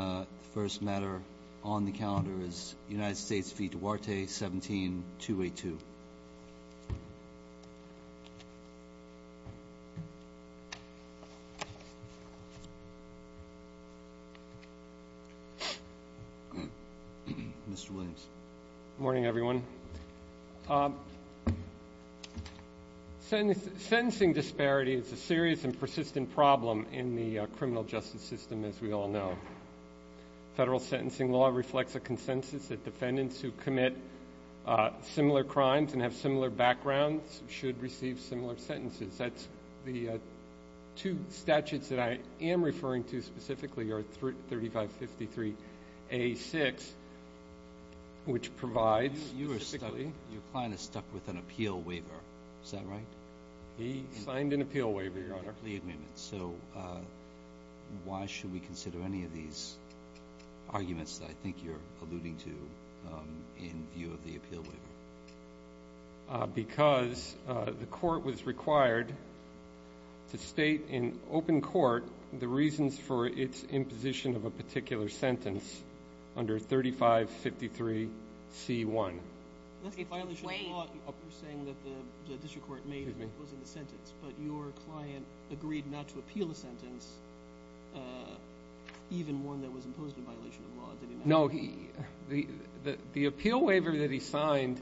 The first matter on the calendar is United States v. Duarte, 17282. Mr. Williams. Good morning, everyone. Sentencing disparity is a serious and persistent problem in the criminal justice system, as we all know. Federal sentencing law reflects a consensus that defendants who commit similar crimes and have similar backgrounds should receive similar sentences. The two statutes that I am referring to specifically are 3553A6, which provides... Your client is stuck with an appeal waiver, is that right? He signed an appeal waiver, Your Honor. So why should we consider any of these arguments that I think you're alluding to in view of the appeal waiver? Because the court was required to state in open court the reasons for its imposition of a particular sentence under 3553C1. But your client agreed not to appeal a sentence, even one that was imposed in violation of law. No, the appeal waiver that he signed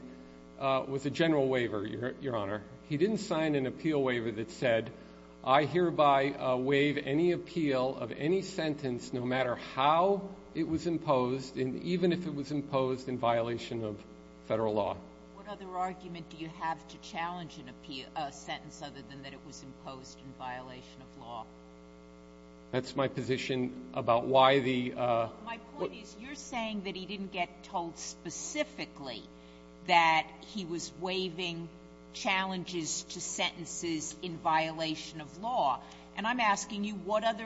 was a general waiver, Your Honor. He didn't sign an appeal waiver that said, I hereby waive any appeal of any sentence no matter how it was imposed, and even if it was imposed in violation of Federal law. What other argument do you have to challenge an appeal of a sentence other than that it was imposed in violation of law? That's my position about why the... My point is, you're saying that he didn't get told specifically that he was waiving challenges to sentences in violation of law. And I'm asking you, what other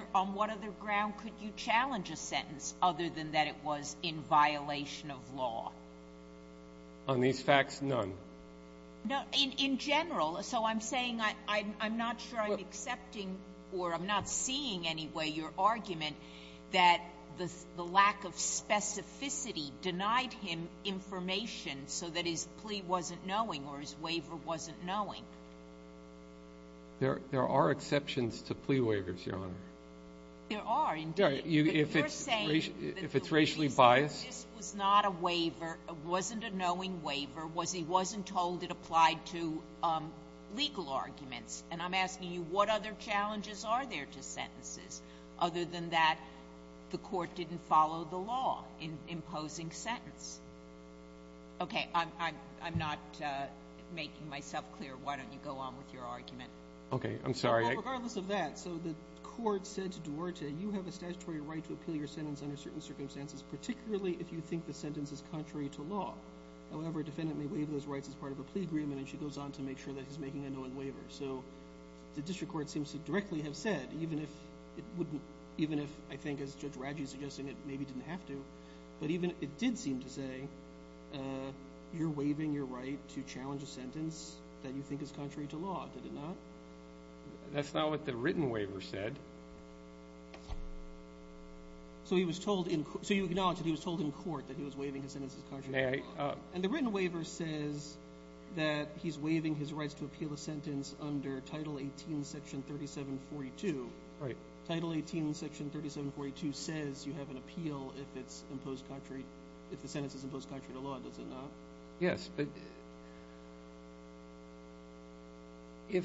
ground could you challenge a sentence other than that it was in violation of law? On these facts, none. In general. So I'm saying I'm not sure I'm accepting or I'm not seeing any way your argument that the lack of specificity denied him information so that his plea wasn't knowing or his waiver wasn't knowing. There are exceptions to plea waivers, Your Honor. There are, indeed. You're saying that the reason this was not a waiver, wasn't a knowing waiver, was he wasn't told it applied to legal arguments. And I'm asking you, what other challenges are there to sentences other than that the Court didn't follow the law in imposing sentence? Okay, I'm not making myself clear. Why don't you go on with your argument? Okay, I'm sorry. Regardless of that, so the Court said to Duarte, you have a statutory right to appeal your sentence under certain circumstances, particularly if you think the sentence is contrary to law. However, a defendant may waive those rights as part of a plea agreement, and she goes on to make sure that he's making a knowing waiver. So the District Court seems to directly have said, even if it wouldn't... Even if, I think as Judge Radji is suggesting, it maybe didn't have to, but even it did seem to say, you're waiving your right to challenge a sentence that you think is contrary to law. Did it not? That's not what the written waiver said. So he was told in... So you acknowledge that he was told in court that he was waiving his sentence is contrary to law. And the written waiver says that he's waiving his rights to appeal a sentence under Title 18, Section 3742. Right. Title 18, Section 3742 says you have an appeal if it's imposed contrary... If the sentence is imposed contrary to law, does it not? Yes, but if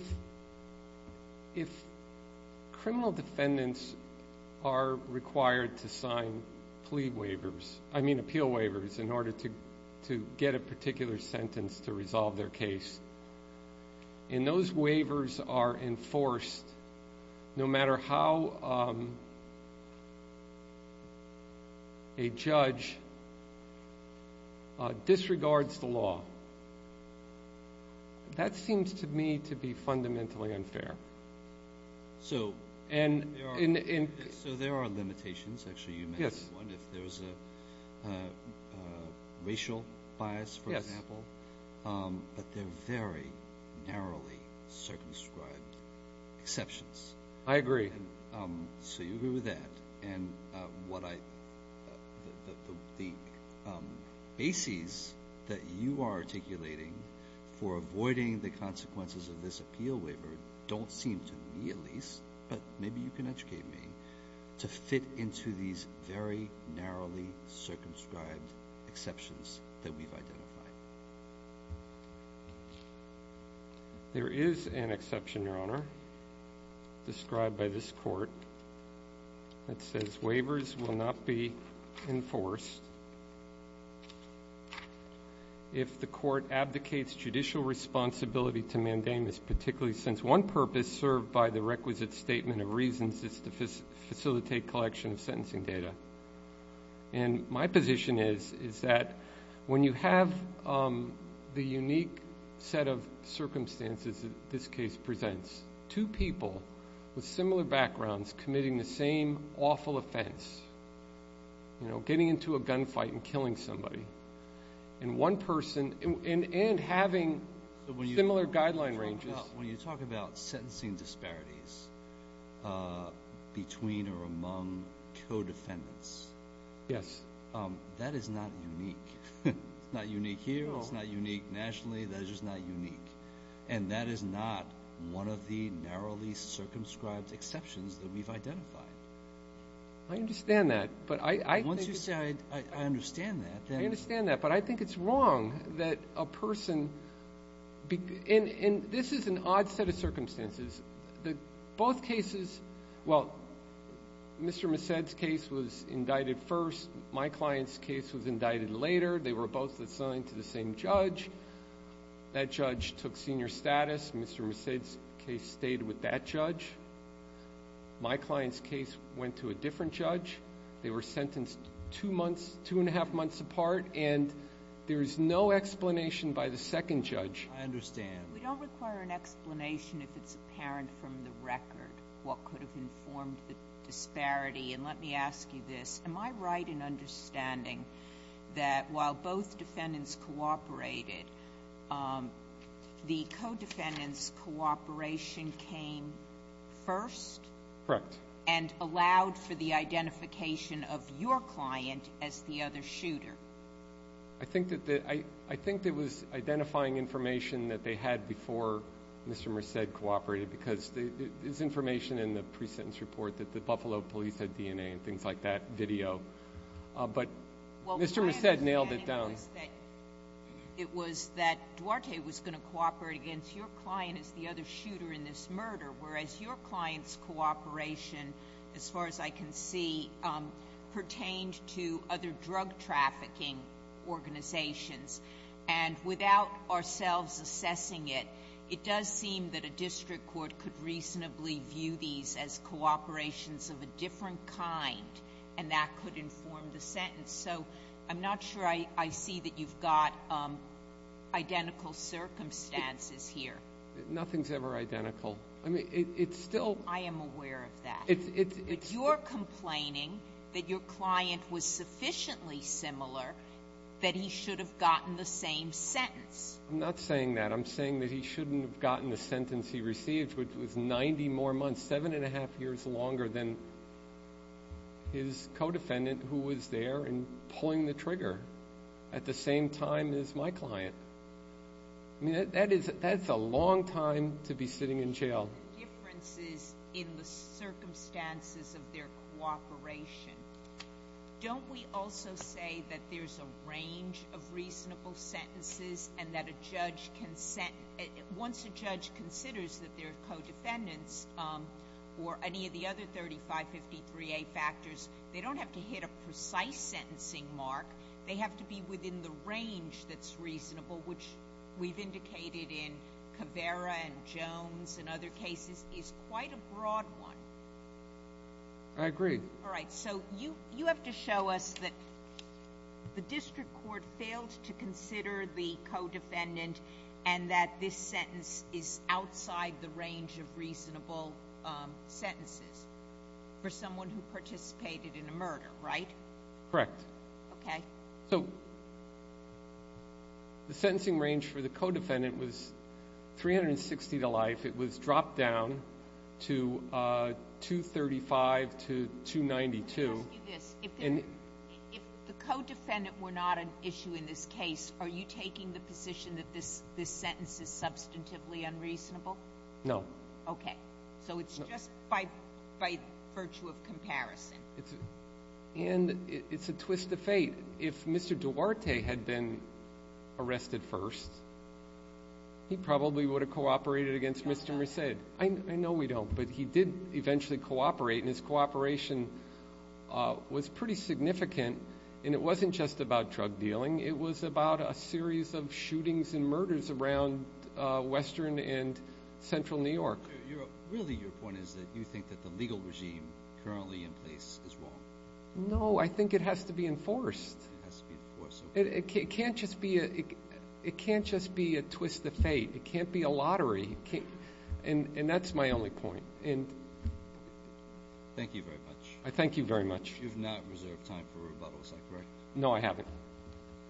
criminal defendants are required to sign plea waivers, I mean appeal waivers, in order to get a particular sentence to resolve their case, and those waivers are enforced no matter how a judge disregards the law. That seems to me to be fundamentally unfair. So there are limitations, actually, you mentioned one, if there's a racial bias, for example, but they're very narrowly circumscribed exceptions. I agree. So you agree with that, and the bases that you are articulating for avoiding the consequences of this appeal waiver don't seem to me, at least, but maybe you can educate me, to fit into these very narrowly circumscribed exceptions that we've identified. There is an exception, Your Honor, described by this Court that says waivers will not be enforced if the Court abdicates judicial responsibility to mandamus particularly since one purpose served by the requisite statement of reasons is to facilitate collection of sentencing data, and my position is that when you have the unique set of circumstances that this case presents, two people with similar backgrounds committing the same awful offense, you know, getting into a gunfight and killing somebody, and one person, and having similar guideline ranges. When you talk about sentencing disparities between or among co-defendants, that is not unique. It's not unique here, it's not unique nationally, that is just not unique, and that is not one of the narrowly circumscribed exceptions that we've identified. I understand that, but I think it's wrong that a person, and this is a very broad question, this is an odd set of circumstances, that both cases, well, Mr. Messed's case was indicted first, my client's case was indicted later, they were both assigned to the same judge, that judge took senior status, Mr. Messed's case stayed with that judge, my client's case went to a different judge, they were sentenced two months, two and a half months apart, and there is no explanation by the second judge. I understand. But we don't require an explanation if it's apparent from the record what could have informed the disparity, and let me ask you this, am I right in understanding that while both defendants cooperated, the co-defendants' cooperation came first? Correct. And allowed for the identification of your client as the other shooter? I think that it was identifying information that they had before Mr. Messed cooperated, because there's information in the pre-sentence report that the Buffalo police had DNA and things like that, video, but Mr. Messed nailed it down. It was that Duarte was going to cooperate against your client as the other shooter in this murder, whereas your client's cooperation, as far as I can see, pertained to other drug trafficking organizations, and without ourselves assessing it, it does seem that a district court could reasonably view these as cooperations of a different kind, and that could inform the sentence. So I'm not sure I see that you've got identical circumstances here. Nothing's ever identical. I mean, it's still — I am aware of that. But you're complaining that your client was sufficiently similar that he should have gotten the same sentence. I'm not saying that. I'm saying that he shouldn't have gotten the sentence he received, which was 90 more months, 7 1⁄2 years longer than his co-defendant who was there and pulling the trigger at the same time as my client. I'm just wondering about the differences in the circumstances of their cooperation. Don't we also say that there's a range of reasonable sentences and that a judge can — once a judge considers that they're co-defendants or any of the other 3553A factors, they don't have to hit a precise sentencing mark. They have to be within the range that's reasonable, which we've indicated in Caveira and Jones and other cases, is quite a broad one. I agree. All right. So you have to show us that the district court failed to consider the co-defendant and that this sentence is outside the range of reasonable sentences for someone who participated in a murder, right? Correct. Okay. So the sentencing range for the co-defendant was 360 to life. It was dropped down to 235 to 292. Let me ask you this. If the co-defendant were not an issue in this case, are you taking the position that this sentence is substantively unreasonable? No. Okay. So it's just by virtue of comparison. And it's a twist of fate. If Mr. Duarte had been arrested first, he probably would have cooperated against Mr. Merced. I know we don't, but he did eventually cooperate, and his cooperation was pretty significant. And it wasn't just about drug dealing. It was about a series of shootings and murders around Western and Central New York. Really your point is that you think that the legal regime currently in place is wrong. No, I think it has to be enforced. It has to be enforced. It can't just be a twist of fate. It can't be a lottery. And that's my only point. Thank you very much. I thank you very much. You've not reserved time for a rebuttal, is that correct? No, I haven't.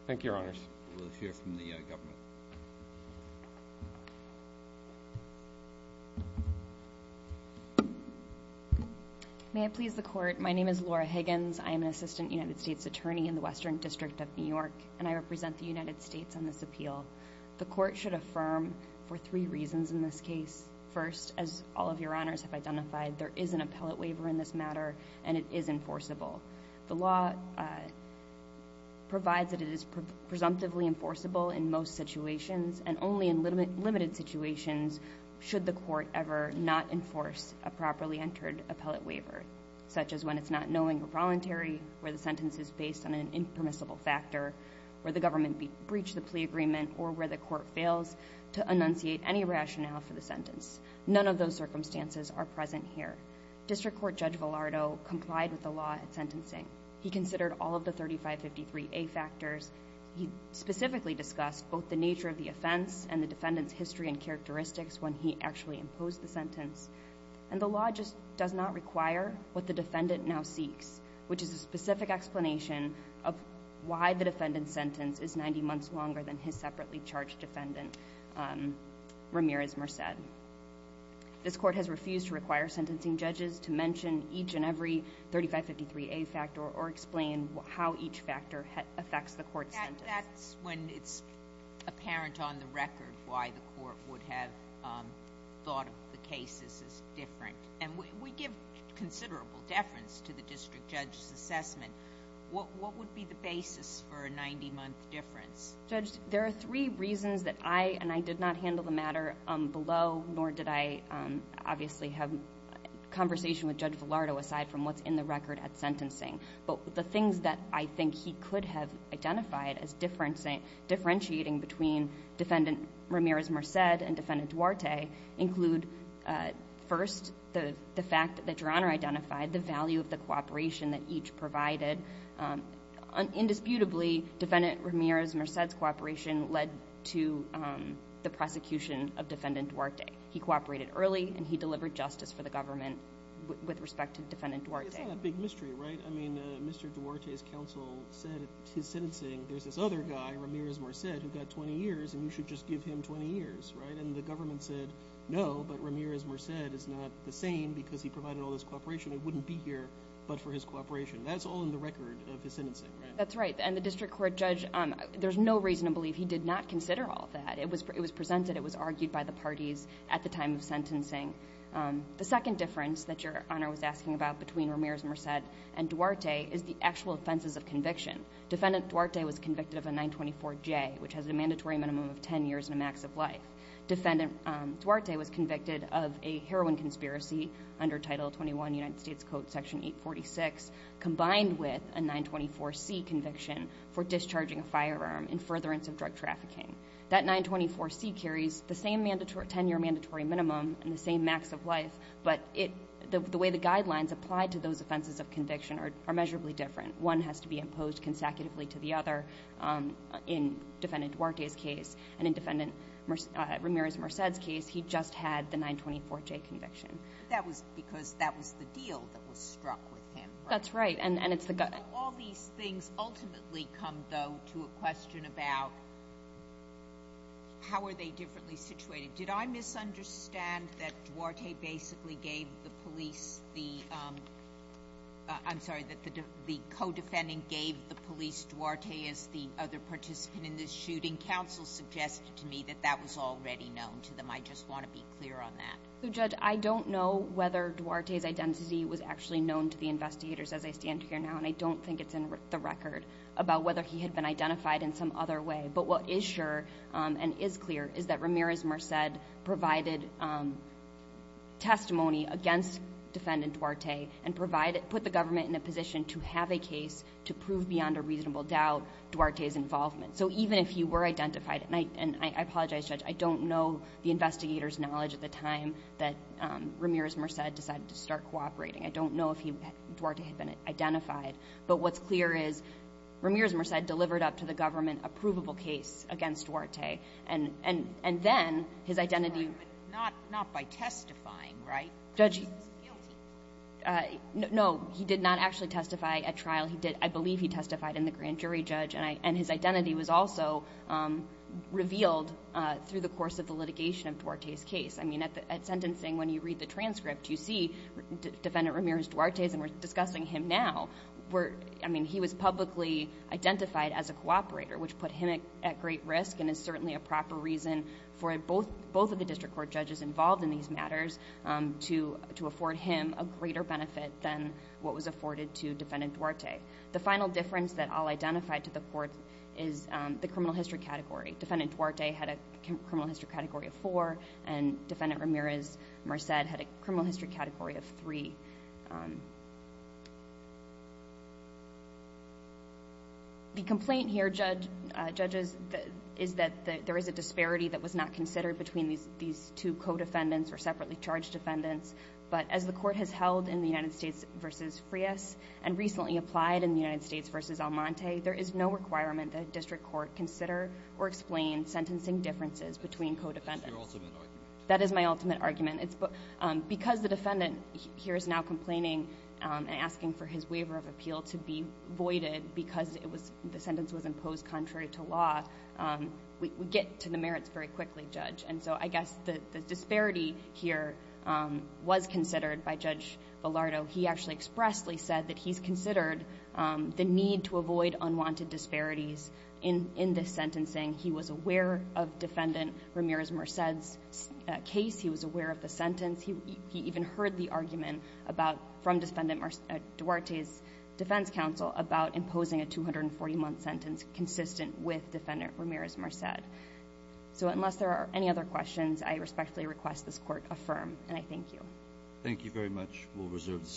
Thank you, Your Honors. We'll hear from the government. May I please the Court? My name is Laura Higgins. I am an Assistant United States Attorney in the Western District of New York, and I represent the United States on this appeal. The Court should affirm for three reasons in this case. First, as all of Your Honors have identified, there is an appellate waiver in this matter, and it is enforceable. The law provides that it is presumptively enforceable in most situations, and only in limited situations should the Court ever not enforce a properly entered appellate waiver, such as when it's not knowing or voluntary, where the sentence is based on an impermissible factor, where the government breached the plea agreement, or where the Court fails to enunciate any rationale for the sentence. None of those circumstances are present here. District Court Judge Villardo complied with the law at sentencing. He considered all of the 3553A factors. He specifically discussed both the nature of the offense and the defendant's history and characteristics when he actually imposed the sentence. And the law just does not require what the defendant now seeks, which is a specific explanation of why the defendant's sentence is 90 months longer than his separately charged defendant, Ramirez-Merced. This Court has refused to require sentencing judges to mention each and every 3553A factor or explain how each factor affects the Court's sentence. That's when it's apparent on the record why the Court would have thought of the cases as different. And we give considerable deference to the District Judge's assessment. What would be the basis for a 90-month difference? Judge, there are three reasons that I and I did not handle the matter below, nor did I obviously have conversation with Judge Villardo aside from what's in the record at sentencing. But the things that I think he could have identified as differentiating between Defendant Ramirez-Merced and Defendant Duarte include, first, the fact that Your Honor identified the value of the cooperation that each provided. Indisputably, Defendant Ramirez-Merced's cooperation led to the prosecution of Defendant Duarte. He cooperated early, and he delivered justice for the government with respect to Defendant Duarte. It's not a big mystery, right? I mean, Mr. Duarte's counsel said at his sentencing, there's this other guy, Ramirez-Merced, who got 20 years, and you should just give him 20 years, right? And the government said, no, but Ramirez-Merced is not the same because he provided all this cooperation. It wouldn't be here but for his cooperation. That's all in the record of his sentencing, right? That's right. And the district court judge, there's no reason to believe he did not consider all that. It was presented. It was argued by the parties at the time of sentencing. The second difference that Your Honor was asking about between Ramirez-Merced and Duarte is the actual offenses of conviction. Defendant Duarte was convicted of a 924J, which has a mandatory minimum of 10 years and a max of life. Defendant Duarte was convicted of a heroin conspiracy under Title 21 United States Code, Section 846, combined with a 924C conviction for discharging a firearm in furtherance of drug trafficking. That 924C carries the same 10-year mandatory minimum and the same max of life, but the way the guidelines apply to those offenses of conviction are measurably different. One has to be imposed consecutively to the other in Defendant Duarte's case and in Defendant Ramirez-Merced's case, he just had the 924J conviction. That was because that was the deal that was struck with him. That's right. And it's the gut. All these things ultimately come, though, to a question about how are they differently situated? Did I misunderstand that Duarte basically gave the police the, I'm sorry, that the co-defendant gave the police Duarte as the other participant in this shooting? Counsel suggested to me that that was already known to them. I just want to be clear on that. Judge, I don't know whether Duarte's identity was actually known to the investigators as I stand here now, and I don't think it's in the record about whether he had been identified in some other way. But what is sure and is clear is that Ramirez-Merced provided testimony against Defendant Duarte and put the government in a position to have a case to prove beyond a reasonable doubt Duarte's involvement. So even if he were identified, and I apologize, Judge, I don't know the that Ramirez-Merced decided to start cooperating. I don't know if Duarte had been identified. But what's clear is Ramirez-Merced delivered up to the government a provable case against Duarte. And then his identity... Not by testifying, right? Judge, no, he did not actually testify at trial. He did, I believe he testified in the grand jury, Judge, and his identity was also revealed through the course of the litigation of Duarte's case. I mean, at sentencing, when you read the transcript, you see Defendant Ramirez-Duarte's, and we're discussing him now, where, I mean, he was publicly identified as a cooperator, which put him at great risk and is certainly a proper reason for both of the district court judges involved in these matters to afford him a greater benefit than what was afforded to Defendant Duarte. The final difference that I'll identify to the court is the criminal history category. Defendant Duarte had a criminal history category of four, and Defendant Ramirez-Merced had a criminal history category of three. The complaint here, judges, is that there is a disparity that was not considered between these two co-defendants or separately charged defendants. But as the court has held in the United States v. Frias, and recently applied in the United States, that does not explain sentencing differences between co-defendants. That is my ultimate argument. Because the defendant here is now complaining and asking for his waiver of appeal to be voided because the sentence was imposed contrary to law, we get to the merits very quickly, Judge. And so I guess the disparity here was considered by Judge Villardo. He actually expressly said that he's considered the need to avoid unwanted disparities in this sentencing. He was aware of Defendant Ramirez-Merced's case. He was aware of the sentence. He even heard the argument about, from Defendant Duarte's defense counsel, about imposing a 240-month sentence consistent with Defendant Ramirez-Merced. So unless there are any other questions, I respectfully request this Court affirm. And I thank you. We'll reserve the seat.